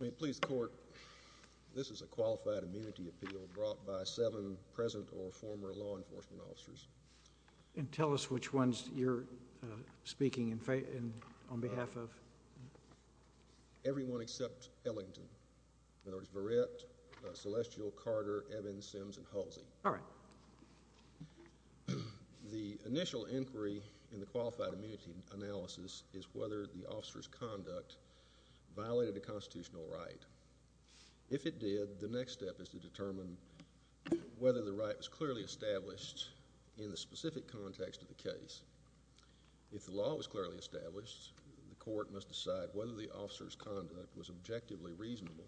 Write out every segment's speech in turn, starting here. May it please the court, this is a qualified immunity appeal brought by seven present or former law enforcement officers. And tell us which ones you're speaking on behalf of. Everyone except Ellington. In other words, Verrett, Celestial, Carter, Evans, Sims, and Halsey. All right. The initial inquiry in the qualified immunity analysis is whether the officer's conduct violated a constitutional right. If it did, the next step is to determine whether the right was clearly established in the specific context of the case. If the law was clearly established, the court must decide whether the officer's conduct was objectively reasonable.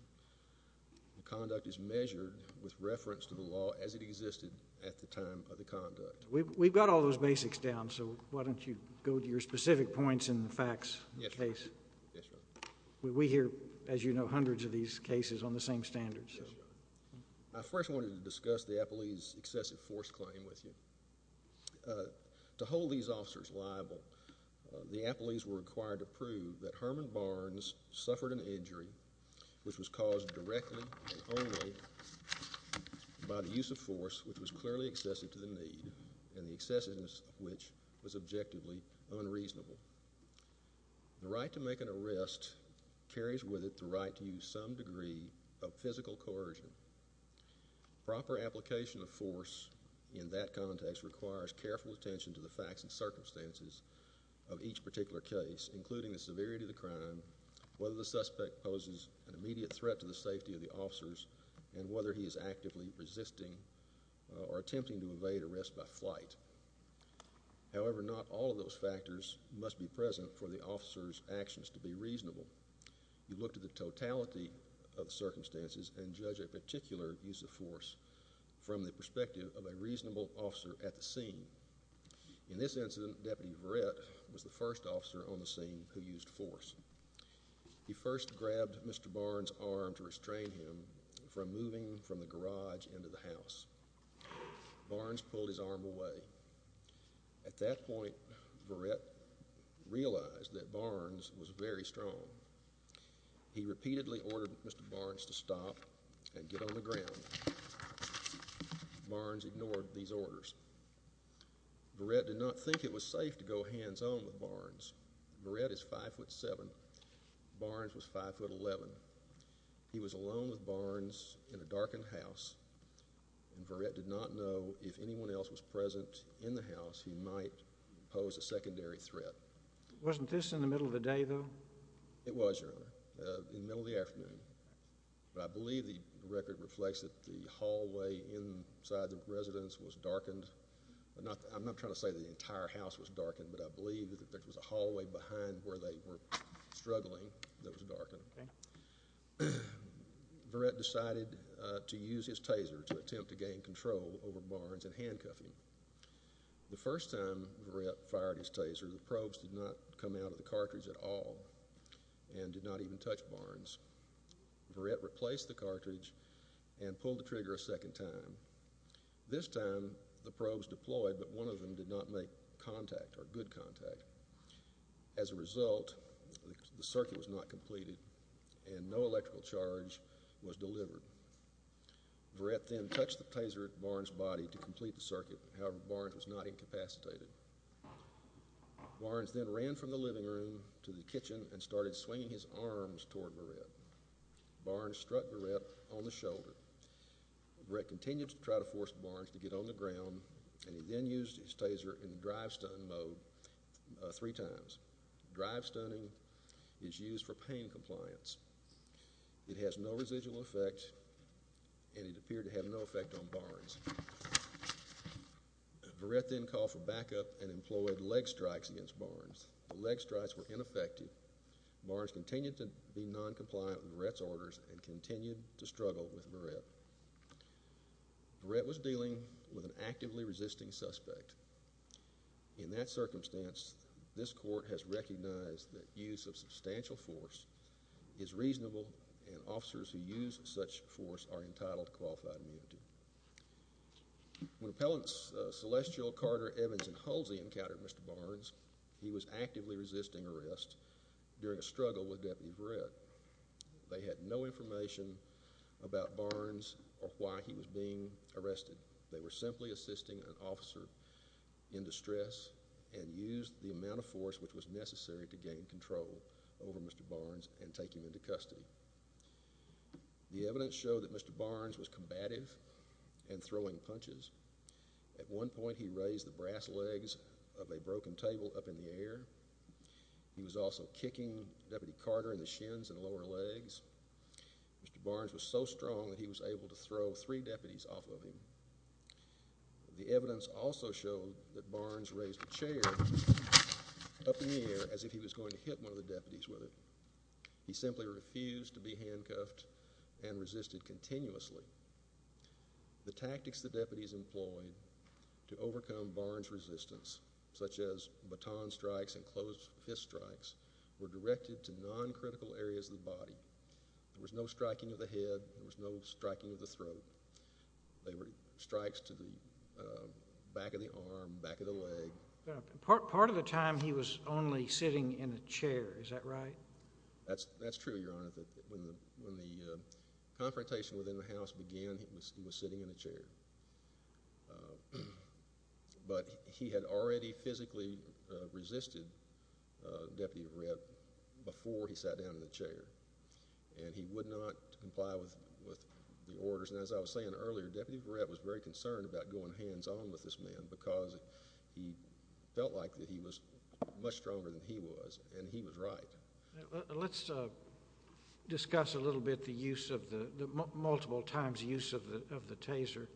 The conduct is measured with reference to the law as it existed at the time of the conduct. We've got all those basics down, so why don't you go to your specific points in the facts of the case. Yes, Your Honor. We hear, as you know, hundreds of these cases on the same standards. Yes, Your Honor. I first wanted to discuss the appellee's excessive force claim with you. To hold these officers liable, the appellees were required to prove that Herman Barnes suffered an injury, which was caused directly and only by the use of force which was clearly excessive to the need and the excessiveness of which was objectively unreasonable. The right to make an arrest carries with it the right to use some degree of physical coercion. Proper application of force in that context requires careful attention to the facts and circumstances of each particular case, including the severity of the crime, whether the suspect poses an immediate threat to the safety of the officers, and whether he is actively resisting or attempting to evade arrest by flight. However, not all of those factors must be present for the officer's actions to be reasonable. You look to the totality of the circumstances and judge a particular use of force from the perspective of a reasonable officer at the scene. In this incident, Deputy Verrett was the first officer on the scene who used force. He first grabbed Mr. Barnes' arm to restrain him from moving from the garage into the house. Barnes pulled his arm away. At that point, Verrett realized that Barnes was very strong. He repeatedly ordered Mr. Barnes to stop and get on the ground. Barnes ignored these orders. Verrett did not think it was safe to go hands-on with Barnes. Verrett is 5'7". Barnes was 5'11". He was alone with Barnes in a darkened house, and Verrett did not know if anyone else was present in the house, he might pose a secondary threat. Wasn't this in the middle of the day, though? It was, Your Honor, in the middle of the afternoon. But I believe the record reflects that the hallway inside the residence was darkened. I'm not trying to say that the entire house was darkened, but I believe that there was a hallway behind where they were struggling that was darkened. Verrett decided to use his taser to attempt to gain control over Barnes and handcuff him. The first time Verrett fired his taser, the probes did not come out of the cartridge at all and did not even touch Barnes. Verrett replaced the cartridge and pulled the trigger a second time. This time, the probes deployed, but one of them did not make contact or good contact. As a result, the circuit was not completed and no electrical charge was delivered. Verrett then touched the taser at Barnes' body to complete the circuit. However, Barnes was not incapacitated. Barnes then ran from the living room to the kitchen and started swinging his arms toward Verrett. Barnes struck Verrett on the shoulder. Verrett continued to try to force Barnes to get on the ground, and he then used his taser in drive-stun mode three times. Drive-stunning is used for pain compliance. It has no residual effect, and it appeared to have no effect on Barnes. Verrett then called for backup and employed leg strikes against Barnes. The leg strikes were ineffective. Barnes continued to be noncompliant with Verrett's orders and continued to struggle with Verrett. Verrett was dealing with an actively resisting suspect. In that circumstance, this court has recognized that use of substantial force is reasonable, and officers who use such force are entitled to qualified immunity. When appellants Celestial, Carter, Evans, and Hulsey encountered Mr. Barnes, he was actively resisting arrest during a struggle with Deputy Verrett. They had no information about Barnes or why he was being arrested. They were simply assisting an officer in distress and used the amount of force which was necessary to gain control over Mr. Barnes and take him into custody. The evidence showed that Mr. Barnes was combative and throwing punches. At one point, he raised the brass legs of a broken table up in the air. He was also kicking Deputy Carter in the shins and lower legs. Mr. Barnes was so strong that he was able to throw three deputies off of him. The evidence also showed that Barnes raised a chair up in the air as if he was going to hit one of the deputies with it. He simply refused to be handcuffed and resisted continuously. The tactics the deputies employed to overcome Barnes' resistance, such as baton strikes and closed fist strikes, were directed to noncritical areas of the body. There was no striking of the head. There was no striking of the throat. There were strikes to the back of the arm, back of the leg. Part of the time, he was only sitting in a chair. Is that right? That's true, Your Honor. When the confrontation within the House began, he was sitting in a chair. But he had already physically resisted Deputy Barrett before he sat down in the chair, and he would not comply with the orders. And as I was saying earlier, Deputy Barrett was very concerned about going hands-on with this man because he felt like that he was much stronger than he was, and he was right. Let's discuss a little bit the multiple times use of the taser.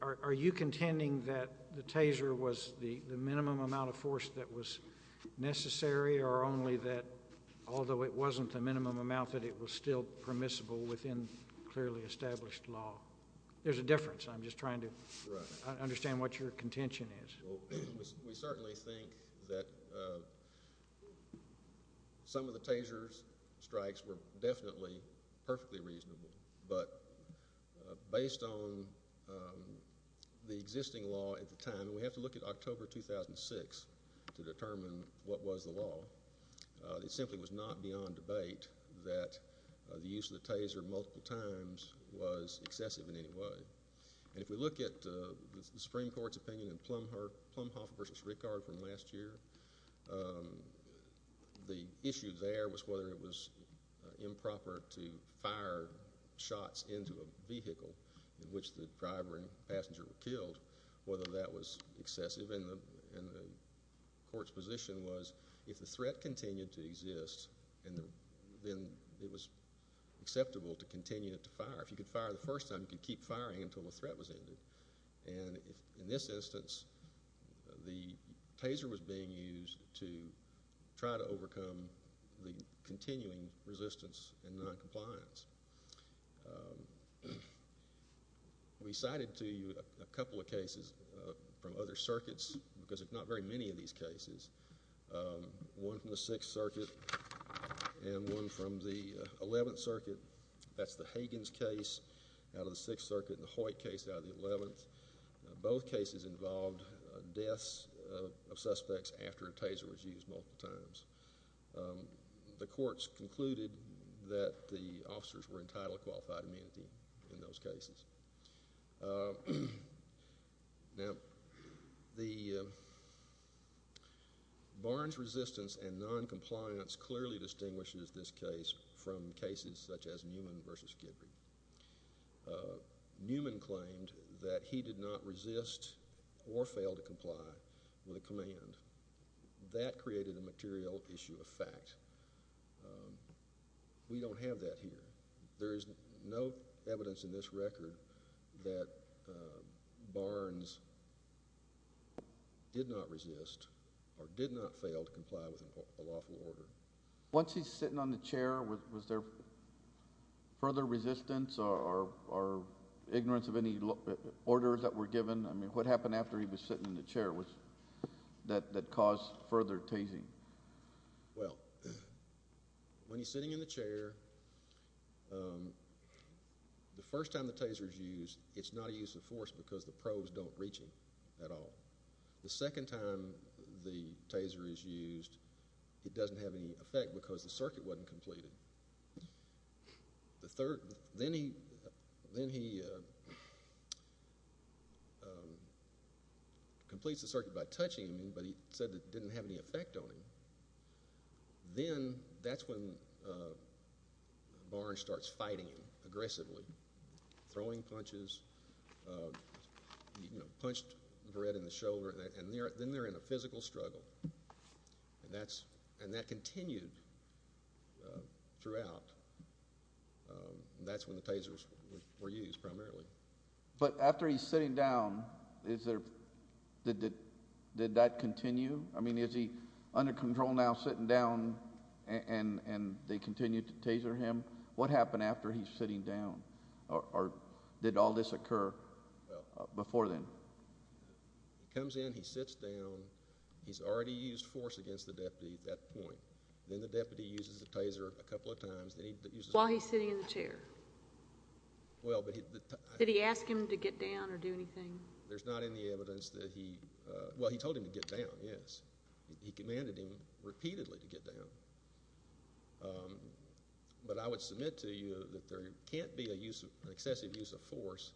Are you contending that the taser was the minimum amount of force that was necessary, or only that although it wasn't the minimum amount, that it was still permissible within clearly established law? There's a difference. I'm just trying to understand what your contention is. Well, we certainly think that some of the taser strikes were definitely perfectly reasonable. But based on the existing law at the time, and we have to look at October 2006 to determine what was the law, it simply was not beyond debate that the use of the taser multiple times was excessive in any way. And if we look at the Supreme Court's opinion in Plumhoff v. Rickard from last year, the issue there was whether it was improper to fire shots into a vehicle in which the driver and passenger were killed, whether that was excessive. And the Court's position was if the threat continued to exist, then it was acceptable to continue to fire. If you could fire the first time, you could keep firing until the threat was ended. And in this instance, the taser was being used to try to overcome the continuing resistance and noncompliance. We cited to you a couple of cases from other circuits, because there's not very many of these cases. One from the Sixth Circuit and one from the Eleventh Circuit. That's the Hagins case out of the Sixth Circuit and the Hoyt case out of the Eleventh. Both cases involved deaths of suspects after a taser was used multiple times. The Courts concluded that the officers were entitled to qualified amenity in those cases. Now, Barnes' resistance and noncompliance clearly distinguishes this case from cases such as Newman v. Kidby. Newman claimed that he did not resist or fail to comply with a command. That created a material issue of fact. We don't have that here. There is no evidence in this record that Barnes did not resist or did not fail to comply with a lawful order. Once he's sitting on the chair, was there further resistance or ignorance of any orders that were given? I mean, what happened after he was sitting in the chair that caused further tasing? Well, when he's sitting in the chair, the first time the taser is used, it's not a use of force because the probes don't reach him at all. The second time the taser is used, it doesn't have any effect because the circuit wasn't completed. Then he completes the circuit by touching him, but he said it didn't have any effect on him. Then that's when Barnes starts fighting him aggressively, throwing punches, you know, punched the bread in the shoulder. Then they're in a physical struggle, and that continued throughout. That's when the tasers were used primarily. But after he's sitting down, did that continue? I mean, is he under control now, sitting down, and they continue to taser him? What happened after he's sitting down, or did all this occur before then? He comes in, he sits down. He's already used force against the deputy at that point. Then the deputy uses the taser a couple of times. While he's sitting in the chair? Did he ask him to get down or do anything? There's not any evidence that he—well, he told him to get down, yes. He commanded him repeatedly to get down. But I would submit to you that there can't be an excessive use of force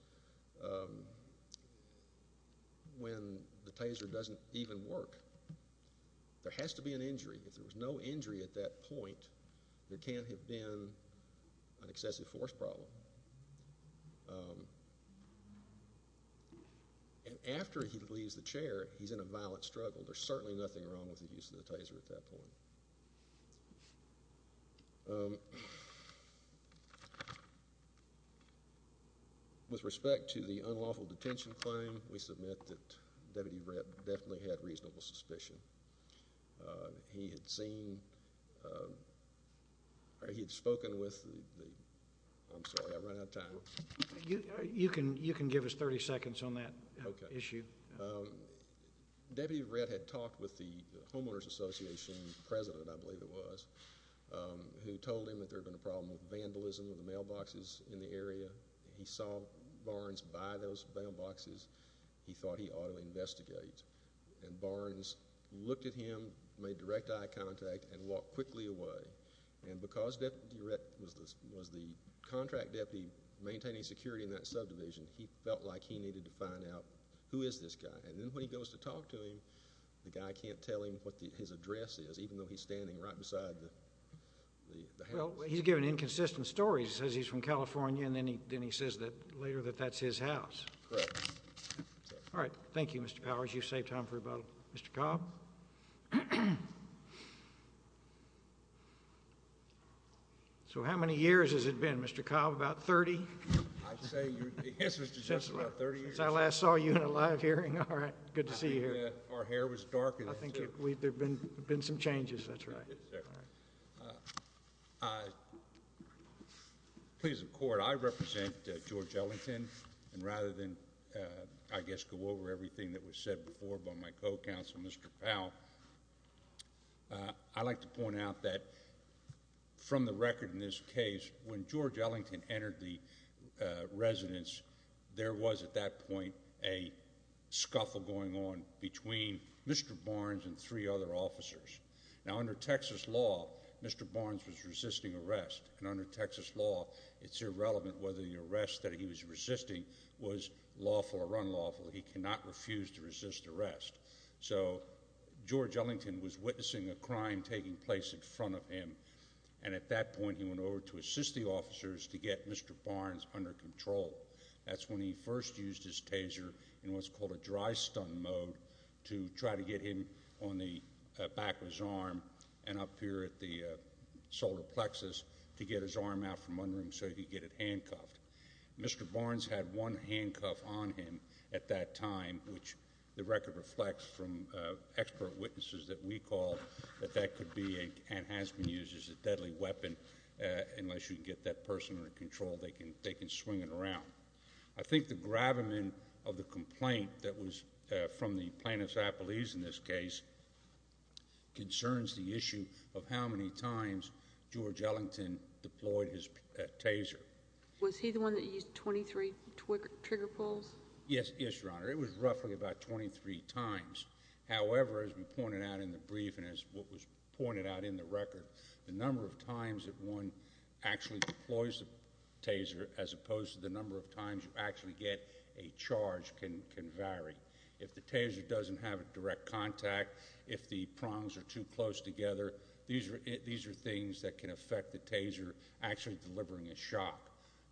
when the taser doesn't even work. There has to be an injury. If there was no injury at that point, there can't have been an excessive force problem. And after he leaves the chair, he's in a violent struggle. There's certainly nothing wrong with the use of the taser at that point. With respect to the unlawful detention claim, we submit that Deputy Rett definitely had reasonable suspicion. He had seen—or he had spoken with the—I'm sorry, I ran out of time. You can give us 30 seconds on that issue. Deputy Rett had talked with the homeowners association president, I believe it was, who told him that there had been a problem with vandalism of the mailboxes in the area. He saw Barnes buy those mailboxes. He thought he ought to investigate. And Barnes looked at him, made direct eye contact, and walked quickly away. And because Deputy Rett was the contract deputy maintaining security in that subdivision, he felt like he needed to find out who is this guy. And then when he goes to talk to him, the guy can't tell him what his address is, even though he's standing right beside the house. Well, he's given inconsistent stories. He says he's from California, and then he says later that that's his house. Correct. All right. Thank you, Mr. Powers. You've saved time for about—Mr. Cobb? So how many years has it been, Mr. Cobb, about 30? I'd say—yes, Mr. Justice, about 30 years. Since I last saw you in a live hearing. All right. Good to see you here. Our hair was darkened. I think there have been some changes. That's right. Please, the Court, I represent George Ellington, and rather than, I guess, go over everything that was said before by my co-counsel, Mr. Powell, I'd like to point out that from the record in this case, when George Ellington entered the residence, there was at that point a scuffle going on between Mr. Barnes and three other officers. Now, under Texas law, Mr. Barnes was resisting arrest, and under Texas law, it's irrelevant whether the arrest that he was resisting was lawful or unlawful. He cannot refuse to resist arrest. So George Ellington was witnessing a crime taking place in front of him, and at that point he went over to assist the officers to get Mr. Barnes under control. That's when he first used his taser in what's called a dry-stun mode to try to get him on the back of his arm and up here at the solar plexus to get his arm out from under him so he could get it handcuffed. Mr. Barnes had one handcuff on him at that time, which the record reflects from expert witnesses that we call that that could be and has been used as a deadly weapon unless you can get that person under control. They can swing it around. I think the gravamen of the complaint that was from the plaintiffs' appellees in this case concerns the issue of how many times George Ellington deployed his taser. Was he the one that used 23 trigger pulls? Yes, Your Honor. It was roughly about 23 times. However, as we pointed out in the brief and as what was pointed out in the record, the number of times that one actually deploys the taser as opposed to the number of times you actually get a charge can vary. If the taser doesn't have a direct contact, if the prongs are too close together, these are things that can affect the taser actually delivering a shock.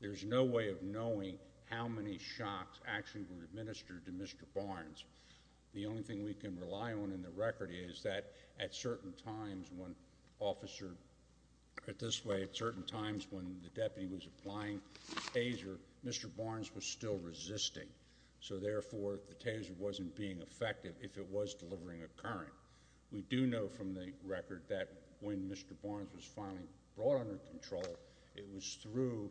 There's no way of knowing how many shocks actually were administered to Mr. Barnes. The only thing we can rely on in the record is that at certain times when officer at this way at certain times when the deputy was applying the taser, Mr. Barnes was still resisting, so therefore the taser wasn't being effective if it was delivering a current. We do know from the record that when Mr. Barnes was finally brought under control, it was through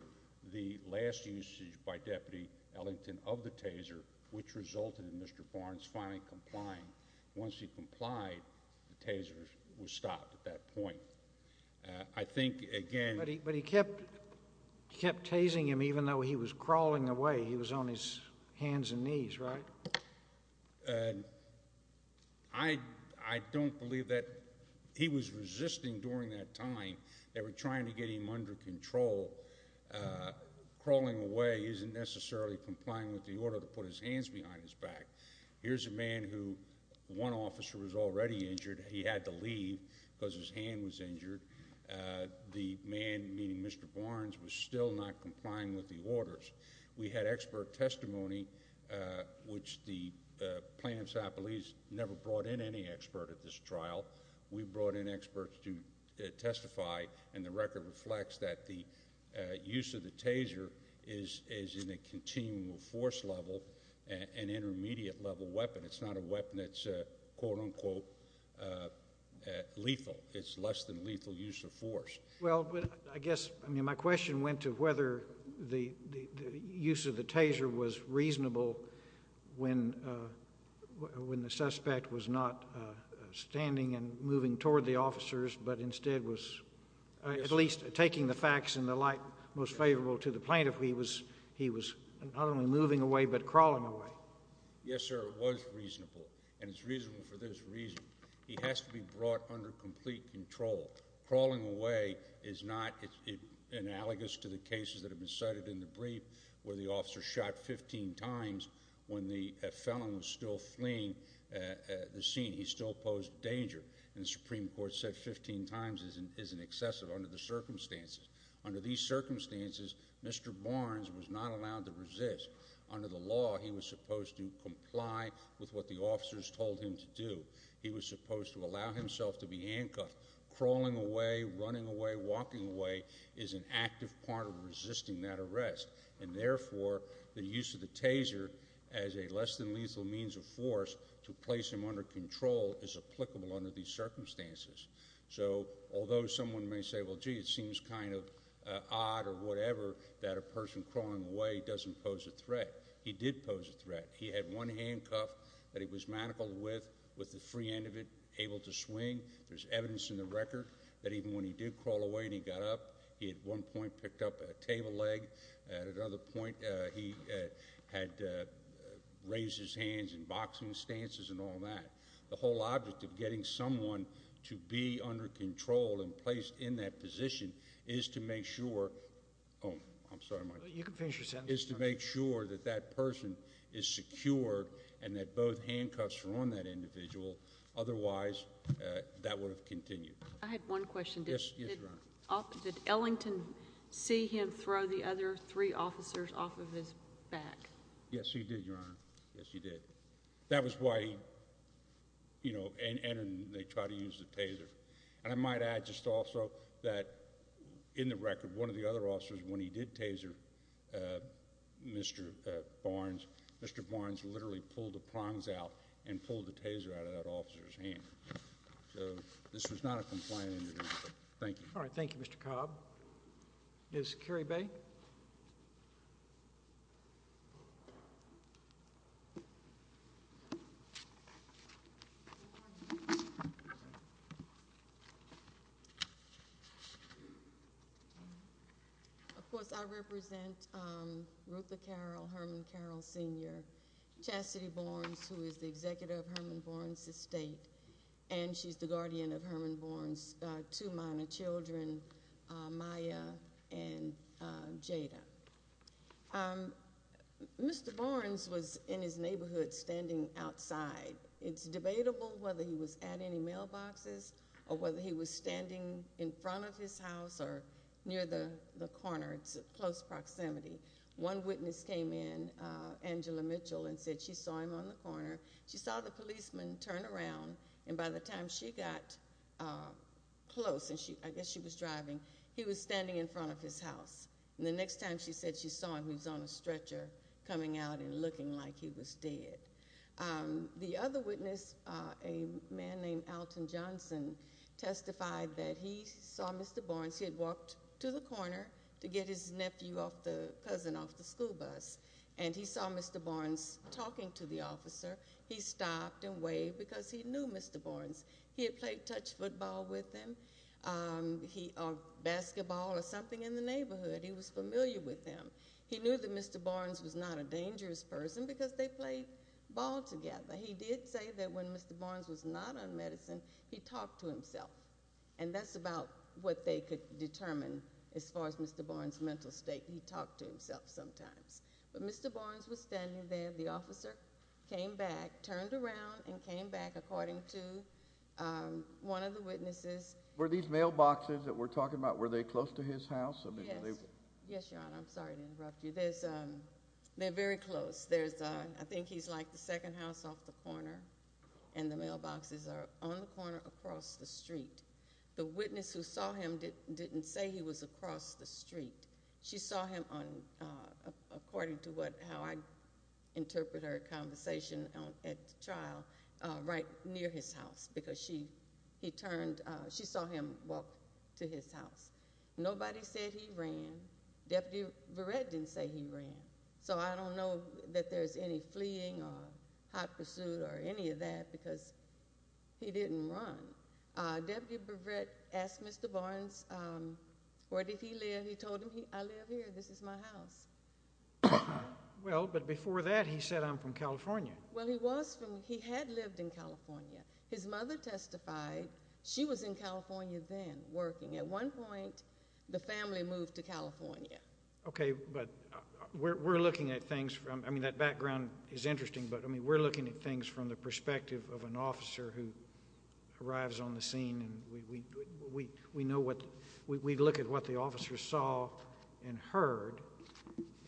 the last usage by Deputy Ellington of the taser, which resulted in Mr. Barnes finally complying. Once he complied, the taser was stopped at that point. I think, again— But he kept tasing him even though he was crawling away. He was on his hands and knees, right? I don't believe that. He was resisting during that time. They were trying to get him under control. Crawling away isn't necessarily complying with the order to put his hands behind his back. Here's a man who one officer was already injured. He had to leave because his hand was injured. The man, meaning Mr. Barnes, was still not complying with the orders. We had expert testimony, which the plaintiff's appellees never brought in any expert at this trial. We brought in experts to testify, and the record reflects that the use of the taser is in a continual force level, an intermediate level weapon. It's not a weapon that's quote-unquote lethal. It's less than lethal use of force. Well, I guess, I mean, my question went to whether the use of the taser was reasonable when the suspect was not standing and moving toward the officers but instead was at least taking the facts in the light most favorable to the plaintiff. He was not only moving away but crawling away. Yes, sir, it was reasonable, and it's reasonable for this reason. He has to be brought under complete control. Crawling away is not analogous to the cases that have been cited in the brief where the officer shot 15 times when the felon was still fleeing the scene. He still posed danger, and the Supreme Court said 15 times isn't excessive under the circumstances. Under these circumstances, Mr. Barnes was not allowed to resist. Under the law, he was supposed to comply with what the officers told him to do. He was supposed to allow himself to be handcuffed. Crawling away, running away, walking away is an active part of resisting that arrest, and therefore the use of the taser as a less than lethal means of force to place him under control is applicable under these circumstances. So although someone may say, well, gee, it seems kind of odd or whatever that a person crawling away doesn't pose a threat, he did pose a threat. He had one handcuff that he was manacled with, with the free end of it, able to swing. There's evidence in the record that even when he did crawl away and he got up, he at one point picked up a table leg. At another point, he had raised his hands in boxing stances and all that. The whole object of getting someone to be under control and placed in that position is to make sure is to make sure that that person is secured and that both handcuffs are on that individual. Otherwise, that would have continued. I had one question. Yes, Your Honor. Did Ellington see him throw the other three officers off of his back? Yes, he did, Your Honor. Yes, he did. That was why he, you know, and they tried to use the taser. And I might add just also that in the record, one of the other officers, when he did taser Mr. Barnes, Mr. Barnes literally pulled the prongs out and pulled the taser out of that officer's hand. So this was not a compliant interview. Thank you. All right. Thank you, Mr. Cobb. Yes, Kerry Bay. Of course, I represent Ruth Carroll, Herman Carroll, Sr., Chassidy Barnes, who is the executive of Herman Barnes' estate, and she's the guardian of Herman Barnes' two minor children, Maya and Jada. Mr. Barnes was in his neighborhood standing outside. It's debatable whether he was at any mailboxes or whether he was standing in front of his house or near the corner. It's close proximity. One witness came in, Angela Mitchell, and said she saw him on the corner. She saw the policeman turn around, and by the time she got close, and I guess she was driving, he was standing in front of his house. And the next time she said she saw him, he was on a stretcher coming out and looking like he was dead. The other witness, a man named Alton Johnson, testified that he saw Mr. Barnes. He had walked to the corner to get his nephew, the cousin, off the school bus, and he saw Mr. Barnes talking to the officer. He stopped and waved because he knew Mr. Barnes. He had played touch football with him or basketball or something in the neighborhood. He was familiar with him. He knew that Mr. Barnes was not a dangerous person because they played ball together. He did say that when Mr. Barnes was not on medicine, he talked to himself. And that's about what they could determine as far as Mr. Barnes' mental state. He talked to himself sometimes. But Mr. Barnes was standing there. The officer came back, turned around, and came back, according to one of the witnesses. Were these mailboxes that we're talking about, were they close to his house? Yes, Your Honor. I'm sorry to interrupt you. They're very close. I think he's like the second house off the corner, and the mailboxes are on the corner across the street. The witness who saw him didn't say he was across the street. She saw him, according to how I interpret her conversation at the trial, right near his house because she saw him walk to his house. Nobody said he ran. Deputy Verrett didn't say he ran. So I don't know that there's any fleeing or hot pursuit or any of that because he didn't run. Deputy Verrett asked Mr. Barnes where did he live. He told him, I live here. This is my house. Well, but before that, he said, I'm from California. Well, he had lived in California. His mother testified. She was in California then working. At one point, the family moved to California. Okay, but we're looking at things from, I mean, that background is interesting, but we're looking at things from the perspective of an officer who arrives on the scene, and we know what, we look at what the officer saw and heard,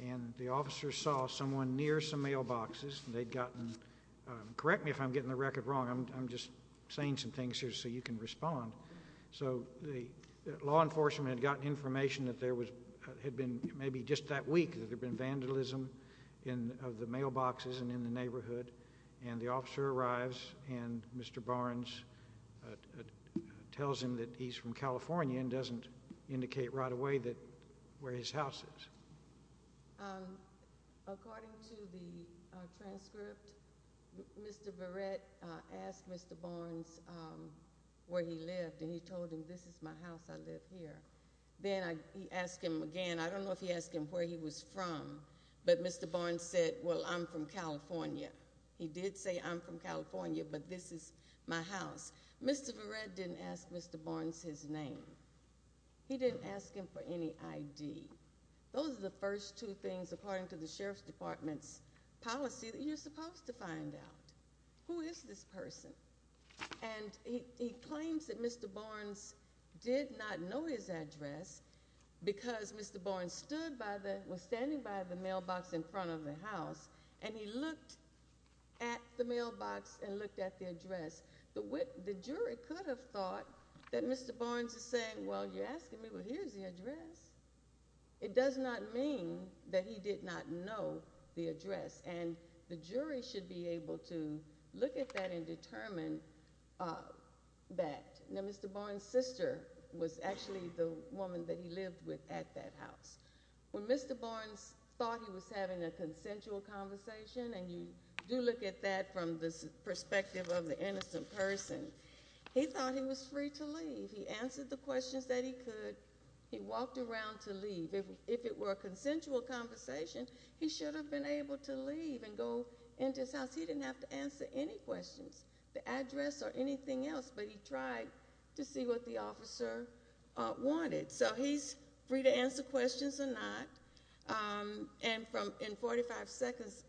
and the officer saw someone near some mailboxes. They'd gotten, correct me if I'm getting the record wrong. I'm just saying some things here so you can respond. So the law enforcement had gotten information that there had been maybe just that week that there had been vandalism of the mailboxes and in the neighborhood, and the officer arrives and Mr. Barnes tells him that he's from California and doesn't indicate right away where his house is. According to the transcript, Mr. Barrett asked Mr. Barnes where he lived, and he told him this is my house, I live here. Then he asked him again. I don't know if he asked him where he was from, but Mr. Barnes said, well, I'm from California. He did say I'm from California, but this is my house. Mr. Barrett didn't ask Mr. Barnes his name. He didn't ask him for any ID. Those are the first two things, according to the Sheriff's Department's policy, that you're supposed to find out. Who is this person? And he claims that Mr. Barnes did not know his address because Mr. Barnes was standing by the mailbox in front of the house, and he looked at the mailbox and looked at the address. The jury could have thought that Mr. Barnes is saying, well, you're asking me, well, here's the address. It does not mean that he did not know the address, and the jury should be able to look at that and determine that. Now, Mr. Barnes' sister was actually the woman that he lived with at that house. When Mr. Barnes thought he was having a consensual conversation, and you do look at that from the perspective of the innocent person, he thought he was free to leave. He answered the questions that he could. He walked around to leave. If it were a consensual conversation, he should have been able to leave and go into his house. He didn't have to answer any questions, the address or anything else, but he tried to see what the officer wanted, so he's free to answer questions or not. And in 45 seconds,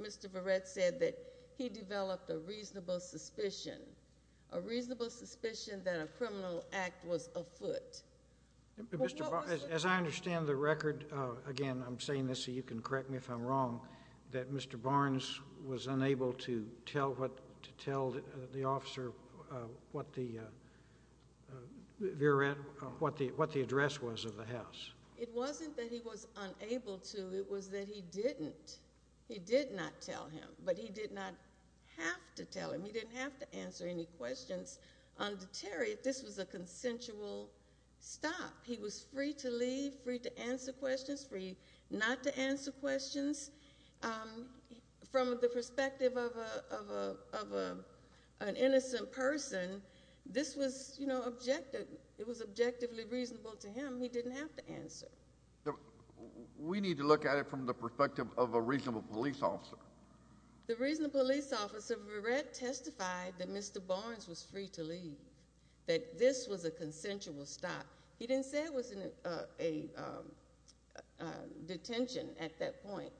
Mr. Verrett said that he developed a reasonable suspicion, a reasonable suspicion that a criminal act was afoot. As I understand the record, again, I'm saying this so you can correct me if I'm wrong, that Mr. Barnes was unable to tell the officer what the address was of the house. It wasn't that he was unable to. It was that he didn't. He did not tell him, but he did not have to tell him. He didn't have to answer any questions. Under Terry, this was a consensual stop. He was free to leave, free to answer questions, free not to answer questions. From the perspective of an innocent person, this was, you know, objective. It was objectively reasonable to him. He didn't have to answer. We need to look at it from the perspective of a reasonable police officer. The reasonable police officer, Verrett, testified that Mr. Barnes was free to leave, that this was a consensual stop. He didn't say it was a detention at that point.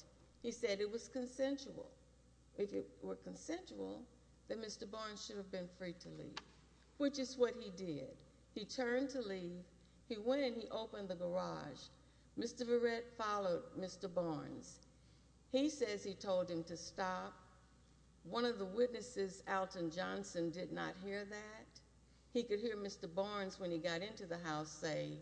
He said it was consensual. If it were consensual, then Mr. Barnes should have been free to leave, which is what he did. He turned to leave. He went and he opened the garage. Mr. Verrett followed Mr. Barnes. He says he told him to stop. One of the witnesses, Alton Johnson, did not hear that. He could hear Mr. Barnes, when he got into the house, say,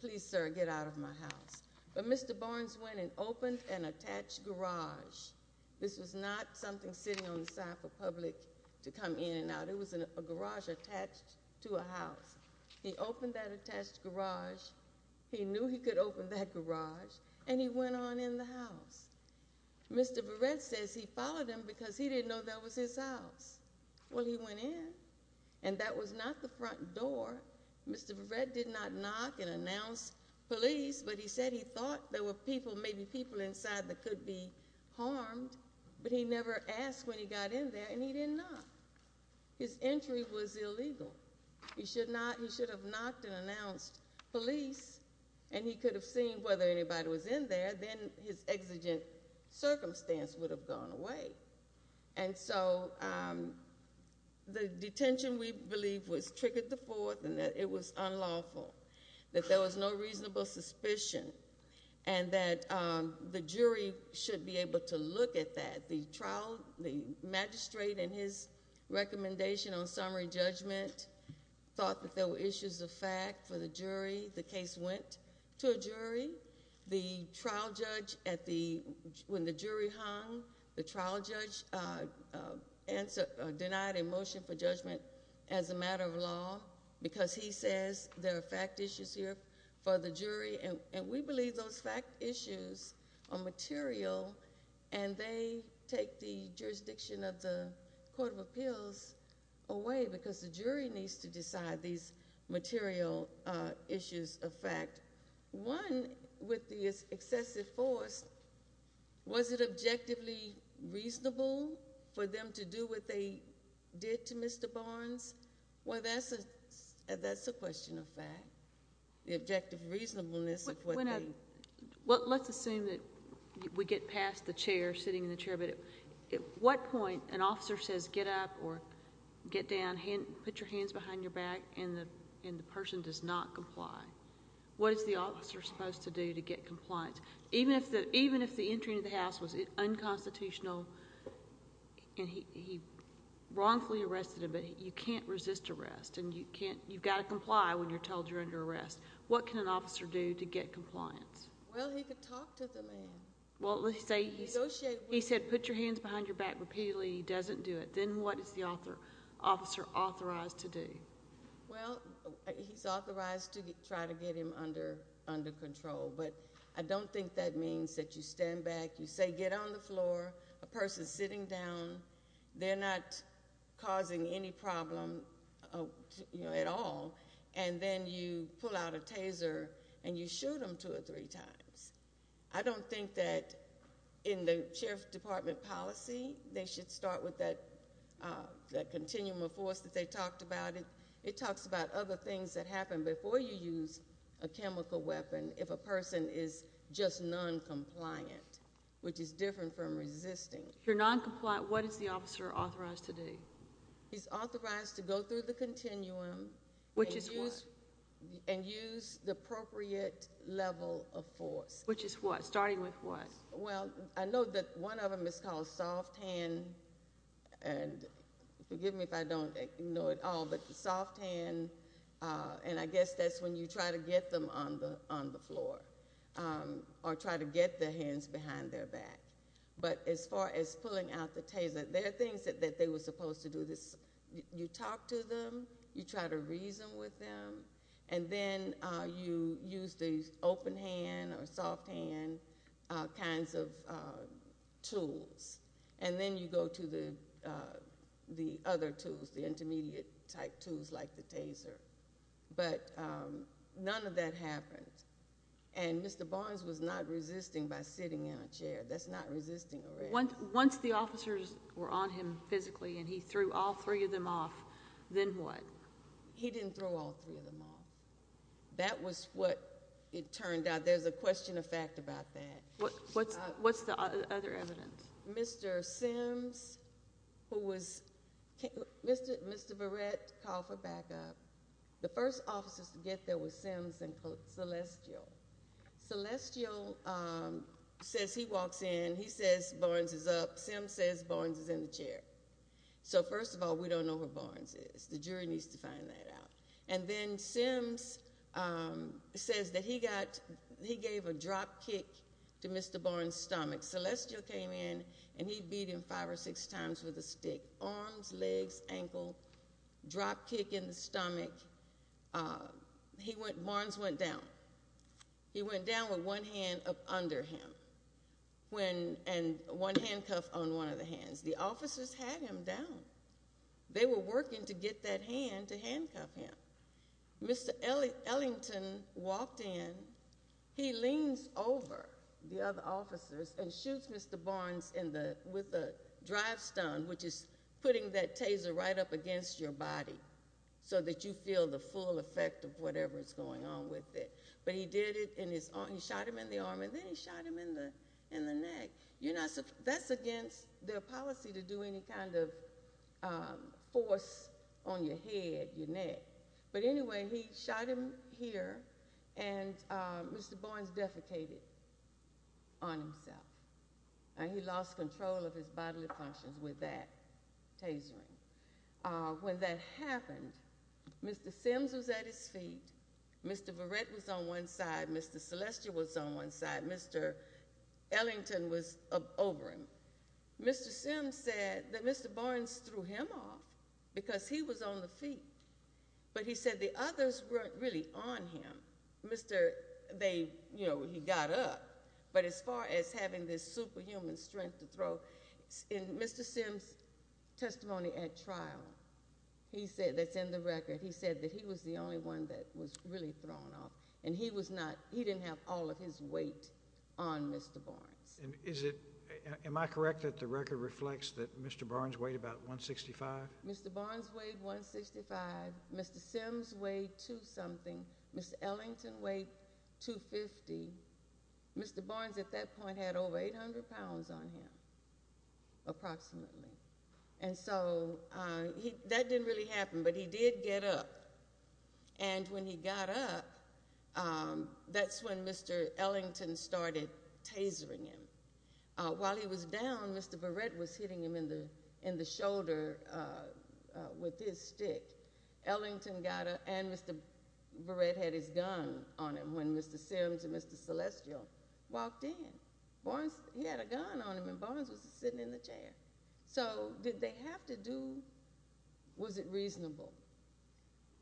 please, sir, get out of my house. But Mr. Barnes went and opened an attached garage. This was not something sitting on the side for public to come in and out. It was a garage attached to a house. He opened that attached garage. He knew he could open that garage, and he went on in the house. Mr. Verrett says he followed him because he didn't know that was his house. Well, he went in, and that was not the front door. Mr. Verrett did not knock and announce police, but he said he thought there were people, maybe people inside that could be harmed, but he never asked when he got in there, and he didn't knock. His entry was illegal. He should have knocked and announced police, and he could have seen whether anybody was in there. Then his exigent circumstance would have gone away. And so the detention, we believe, was triggered the fourth, and that it was unlawful. That there was no reasonable suspicion, and that the jury should be able to look at that. The magistrate in his recommendation on summary judgment thought that there were issues of fact for the jury. The case went to a jury. The trial judge, when the jury hung, the trial judge denied a motion for judgment as a matter of law because he says there are fact issues here for the jury, and we believe those fact issues are material, and they take the jurisdiction of the Court of Appeals away because the jury needs to decide these material issues of fact. One, with the excessive force, was it objectively reasonable for them to do what they did to Mr. Barnes? Well, that's a question of fact, the objective reasonableness of what they. Let's assume that we get past the chair, sitting in the chair, but at what point an officer says get up or get down, put your hands behind your back, and the person does not comply? What is the officer supposed to do to get compliance? Even if the entry into the house was unconstitutional and he wrongfully arrested him, but you can't resist arrest and you've got to comply when you're told you're under arrest, what can an officer do to get compliance? Well, he could talk to the man. Well, he said put your hands behind your back repeatedly, he doesn't do it. Then what is the officer authorized to do? Well, he's authorized to try to get him under control, but I don't think that means that you stand back, you say get on the floor, a person's sitting down, they're not causing any problem at all, and then you pull out a taser and you shoot them two or three times. I don't think that in the Sheriff's Department policy they should start with that continuum of force that they talked about. It talks about other things that happen before you use a chemical weapon if a person is just noncompliant, which is different from resisting. If you're noncompliant, what is the officer authorized to do? He's authorized to go through the continuum and use the appropriate level of force. Which is what? Starting with what? Well, I know that one of them is called soft hand, and forgive me if I don't know it all, but soft hand, and I guess that's when you try to get them on the floor or try to get their hands behind their back. But as far as pulling out the taser, there are things that they were supposed to do. You talk to them, you try to reason with them, and then you use the open hand or soft hand kinds of tools, and then you go to the other tools, the intermediate type tools like the taser. But none of that happened, and Mr. Barnes was not resisting by sitting in a chair. That's not resisting arrest. Once the officers were on him physically and he threw all three of them off, then what? He didn't throw all three of them off. That was what it turned out. There's a question of fact about that. What's the other evidence? Mr. Sims, who was – Mr. Barrett, call for backup. The first officers to get there was Sims and Celestial. Celestial says he walks in. He says Barnes is up. Sims says Barnes is in the chair. So first of all, we don't know where Barnes is. The jury needs to find that out. And then Sims says that he gave a drop kick to Mr. Barnes' stomach. Celestial came in, and he beat him five or six times with a stick, arms, legs, ankle, drop kick in the stomach. Barnes went down. He went down with one hand up under him and one handcuff on one of the hands. The officers had him down. They were working to get that hand to handcuff him. Mr. Ellington walked in. He leans over the other officers and shoots Mr. Barnes with a drive stone, which is putting that taser right up against your body so that you feel the full effect of whatever is going on with it. But he did it, and he shot him in the arm, and then he shot him in the neck. That's against their policy to do any kind of force on your head, your neck. But anyway, he shot him here, and Mr. Barnes defecated on himself. And he lost control of his bodily functions with that tasering. When that happened, Mr. Sims was at his feet. Mr. Verrett was on one side. Mr. Celestial was on one side. Mr. Ellington was over him. Mr. Sims said that Mr. Barnes threw him off because he was on the feet, but he said the others weren't really on him. He got up. But as far as having this superhuman strength to throw, in Mr. Sims' testimony at trial, that's in the record, he said that he was the only one that was really thrown off, and he didn't have all of his weight on Mr. Barnes. Am I correct that the record reflects that Mr. Barnes weighed about 165? Mr. Barnes weighed 165. Mr. Sims weighed two-something. Mr. Ellington weighed 250. Mr. Barnes at that point had over 800 pounds on him, approximately. And so that didn't really happen, but he did get up. And when he got up, that's when Mr. Ellington started tasering him. While he was down, Mr. Verrett was hitting him in the shoulder with his stick. Ellington got up, and Mr. Verrett had his gun on him when Mr. Sims and Mr. Celestial walked in. He had a gun on him, and Barnes was sitting in the chair. So did they have to do—was it reasonable?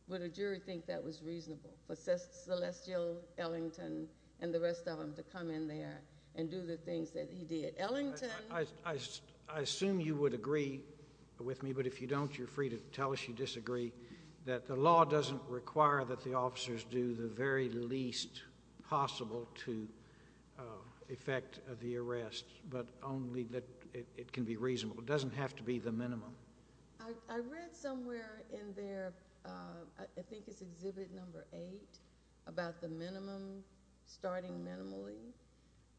Would a jury think that was reasonable for Celestial, Ellington, and the rest of them to come in there and do the things that he did? I assume you would agree with me, but if you don't, you're free to tell us you disagree, that the law doesn't require that the officers do the very least possible to effect the arrest, but only that it can be reasonable. It doesn't have to be the minimum. I read somewhere in there, I think it's Exhibit No. 8, about the minimum, starting minimally.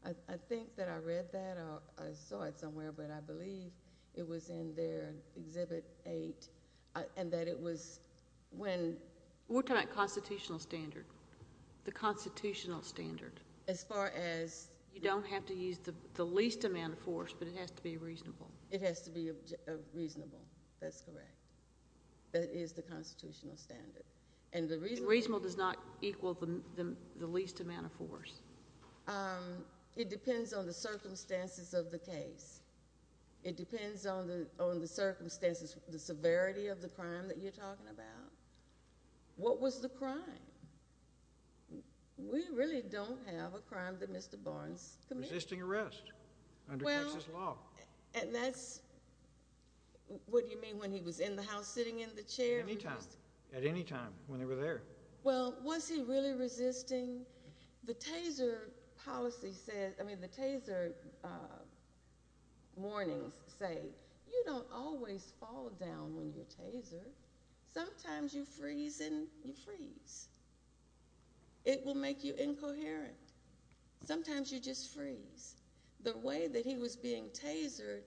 I think that I read that, or I saw it somewhere, but I believe it was in there, Exhibit 8, and that it was when— We're talking about constitutional standard, the constitutional standard. As far as— You don't have to use the least amount of force, but it has to be reasonable. It has to be reasonable, that's correct. That is the constitutional standard. Reasonable does not equal the least amount of force. It depends on the circumstances of the case. It depends on the circumstances, the severity of the crime that you're talking about. What was the crime? We really don't have a crime that Mr. Barnes committed. Resisting arrest under Texas law. And that's—what do you mean, when he was in the house sitting in the chair? At any time, when they were there. Well, was he really resisting? The taser policy says—I mean, the taser warnings say, you don't always fall down when you're tasered. Sometimes you freeze and you freeze. It will make you incoherent. Sometimes you just freeze. The way that he was being tasered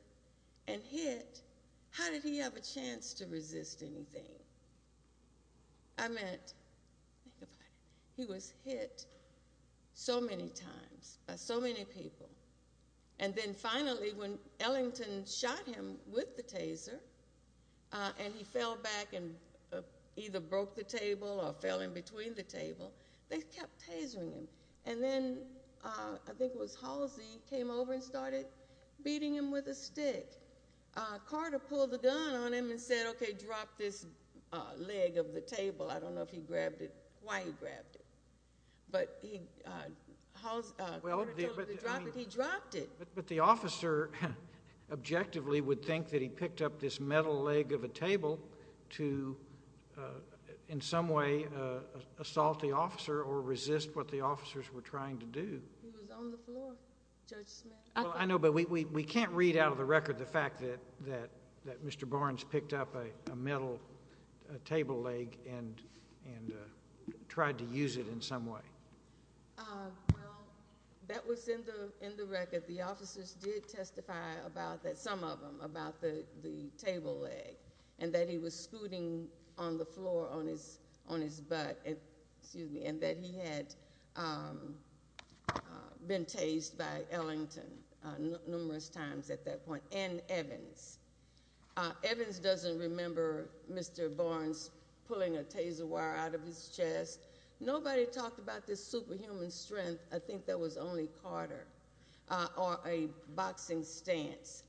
and hit, how did he have a chance to resist anything? I meant, think about it. He was hit so many times by so many people. And then finally, when Ellington shot him with the taser, and he fell back and either broke the table or fell in between the table, they kept tasering him. And then, I think it was Halsey came over and started beating him with a stick. Carter pulled a gun on him and said, okay, drop this leg of the table. I don't know if he grabbed it, why he grabbed it. But Carter told him to drop it. He dropped it. But the officer, objectively, would think that he picked up this metal leg of a table to, in some way, assault the officer or resist what the officers were trying to do. He was on the floor, Judge Smith. I know, but we can't read out of the record the fact that Mr. Barnes picked up a metal table leg and tried to use it in some way. Well, that was in the record. The officers did testify about that, some of them, about the table leg, and that he was scooting on the floor on his butt, excuse me, and that he had been tased by Ellington numerous times at that point and Evans. Evans doesn't remember Mr. Barnes pulling a taser wire out of his chest. Nobody talked about this superhuman strength. I think that was only Carter or a boxing stance.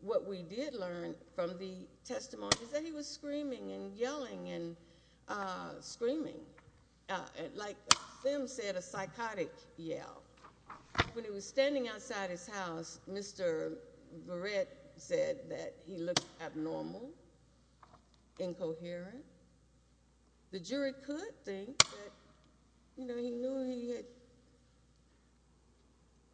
What we did learn from the testimony is that he was screaming and yelling and screaming, like them said, a psychotic yell. When he was standing outside his house, Mr. Barrett said that he looked abnormal, incoherent. The jury could think that he knew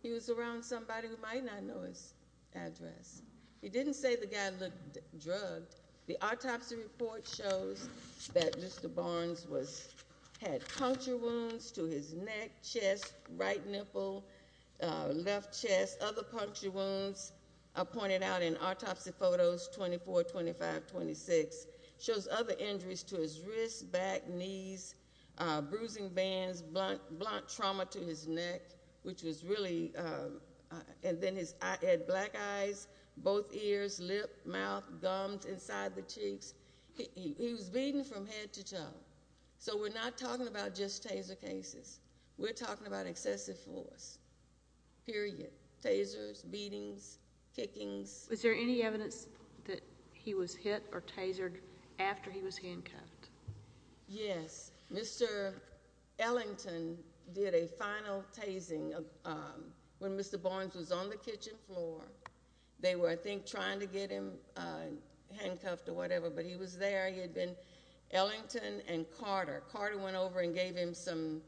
he was around somebody who might not know his address. He didn't say the guy looked drugged. The autopsy report shows that Mr. Barnes had puncture wounds to his neck, chest, right nipple, left chest. As other puncture wounds are pointed out in autopsy photos, 24, 25, 26, shows other injuries to his wrists, back, knees, bruising bands, blunt trauma to his neck, which was really, and then he had black eyes, both ears, lip, mouth, gums inside the cheeks. He was beating from head to toe. So we're not talking about just taser cases. We're talking about excessive force, period, tasers, beatings, kickings. Was there any evidence that he was hit or tasered after he was handcuffed? Yes. Mr. Ellington did a final tasing when Mr. Barnes was on the kitchen floor. They were, I think, trying to get him handcuffed or whatever, but he was there. He had been Ellington and Carter. Carter went over and gave him some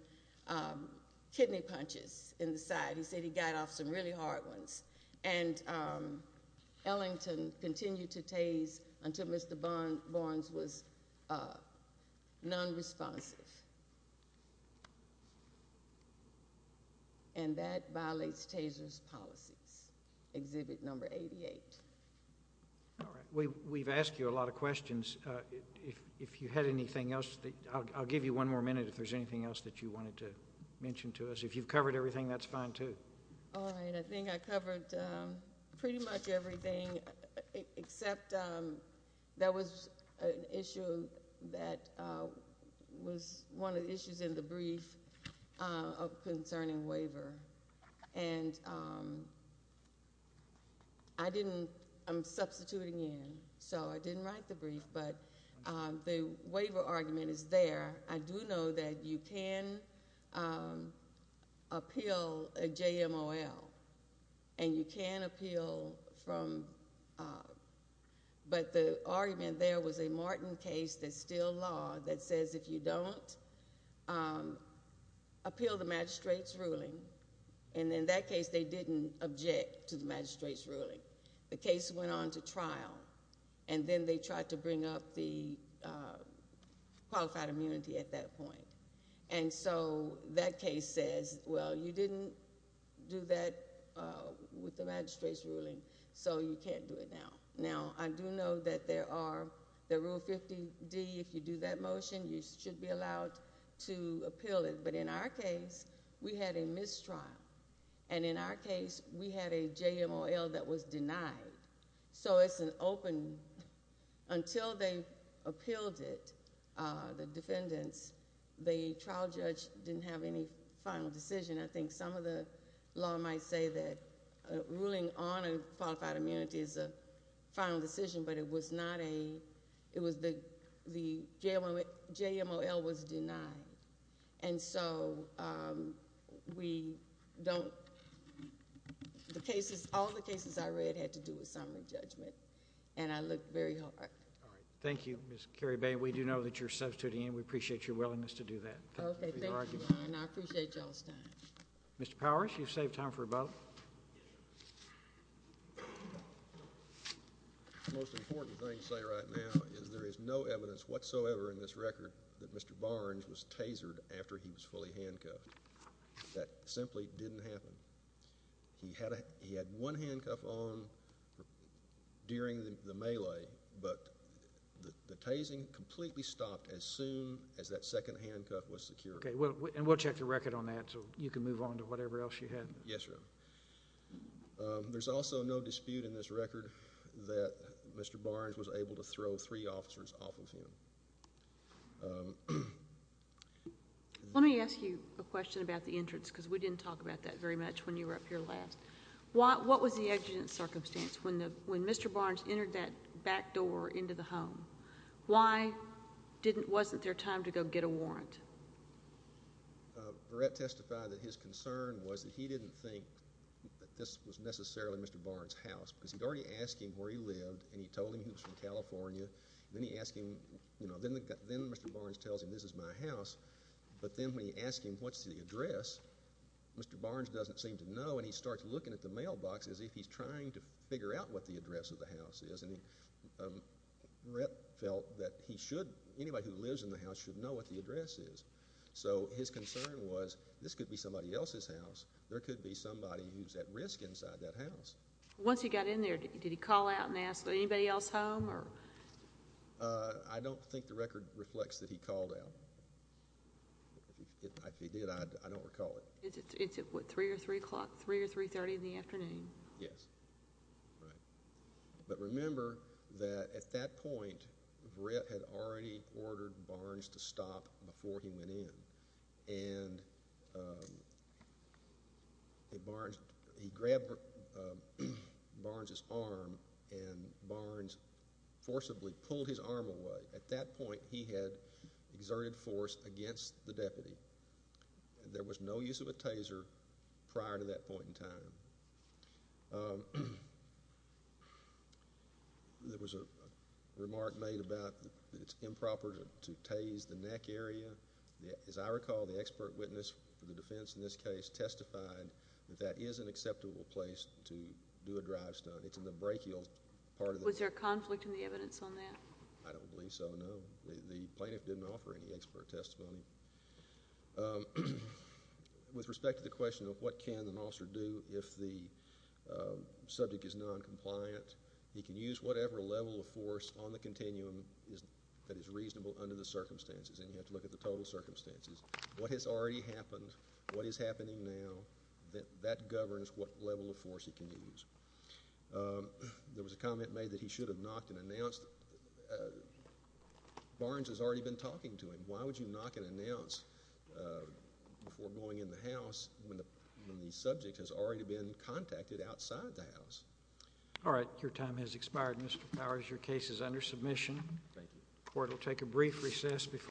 kidney punches in the side. He said he got off some really hard ones. And Ellington continued to tase until Mr. Barnes was nonresponsive. And that violates taser's policies, Exhibit Number 88. All right. We've asked you a lot of questions. If you had anything else, I'll give you one more minute if there's anything else that you wanted to mention to us. If you've covered everything, that's fine, too. All right. I think I covered pretty much everything except there was an issue that was one of the issues in the brief concerning waiver. And I didn't, I'm substituting in, so I didn't write the brief, but the waiver argument is there. I do know that you can appeal a JMOL, and you can appeal from, but the argument there was a Martin case, that's still law, that says if you don't appeal the magistrate's ruling, and in that case they didn't object to the magistrate's ruling. The case went on to trial, and then they tried to bring up the qualified immunity at that point. And so that case says, well, you didn't do that with the magistrate's ruling, so you can't do it now. Now, I do know that there are, the Rule 50D, if you do that motion, you should be allowed to appeal it. But in our case, we had a mistrial. And in our case, we had a JMOL that was denied. So it's an open, until they appealed it, the defendants, the trial judge didn't have any final decision. I think some of the law might say that ruling on a qualified immunity is a final decision, but it was not a, it was the, the JMOL was denied. And so we don't, the cases, all the cases I read had to do with summary judgment, and I looked very hard. All right. Thank you, Ms. Carrie Bain. We do know that you're substituting in. We appreciate your willingness to do that. Okay. Thank you, Brian. I appreciate y'all's time. Mr. Powers, you've saved time for a vote. The most important thing to say right now is there is no evidence whatsoever in this record that Mr. Barnes was tasered after he was fully handcuffed. That simply didn't happen. He had one handcuff on during the melee, but the tasing completely stopped as soon as that second handcuff was secured. Okay. And we'll check the record on that so you can move on to whatever else you have. Yes, sir. There's also no dispute in this record that Mr. Barnes was able to throw three officers off of him. Let me ask you a question about the entrance because we didn't talk about that very much when you were up here last. What was the exigent circumstance when Mr. Barnes entered that back door into the home? Why wasn't there time to go get a warrant? Brett testified that his concern was that he didn't think that this was necessarily Mr. Barnes' house because he'd already asked him where he lived and he told him he was from California. Then he asked him, you know, then Mr. Barnes tells him this is my house. But then when he asked him what's the address, Mr. Barnes doesn't seem to know, and he starts looking at the mailbox as if he's trying to figure out what the address of the house is. And Brett felt that he should, anybody who lives in the house should know what the address is. So his concern was this could be somebody else's house. There could be somebody who's at risk inside that house. Once he got in there, did he call out and ask anybody else home? I don't think the record reflects that he called out. If he did, I don't recall it. Is it, what, 3 or 3 o'clock, 3 or 3.30 in the afternoon? Yes. Right. But remember that at that point, Brett had already ordered Barnes to stop before he went in. And he grabbed Barnes' arm and Barnes forcibly pulled his arm away. At that point, he had exerted force against the deputy. There was no use of a taser prior to that point in time. There was a remark made about that it's improper to tase the neck area. As I recall, the expert witness for the defense in this case testified that that is an acceptable place to do a drive stunt. It's in the brachial part of the neck. Was there conflict in the evidence on that? I don't believe so, no. The plaintiff didn't offer any expert testimony. With respect to the question of what can an officer do if the subject is noncompliant, he can use whatever level of force on the continuum that is reasonable under the circumstances. And you have to look at the total circumstances. What has already happened? What is happening now? That governs what level of force he can use. There was a comment made that he should have knocked and announced. Barnes has already been talking to him. Why would you knock and announce before going in the house when the subject has already been contacted outside the house? All right. Your time has expired, Mr. Powers. Your case is under submission. Thank you. The court will take a brief recess.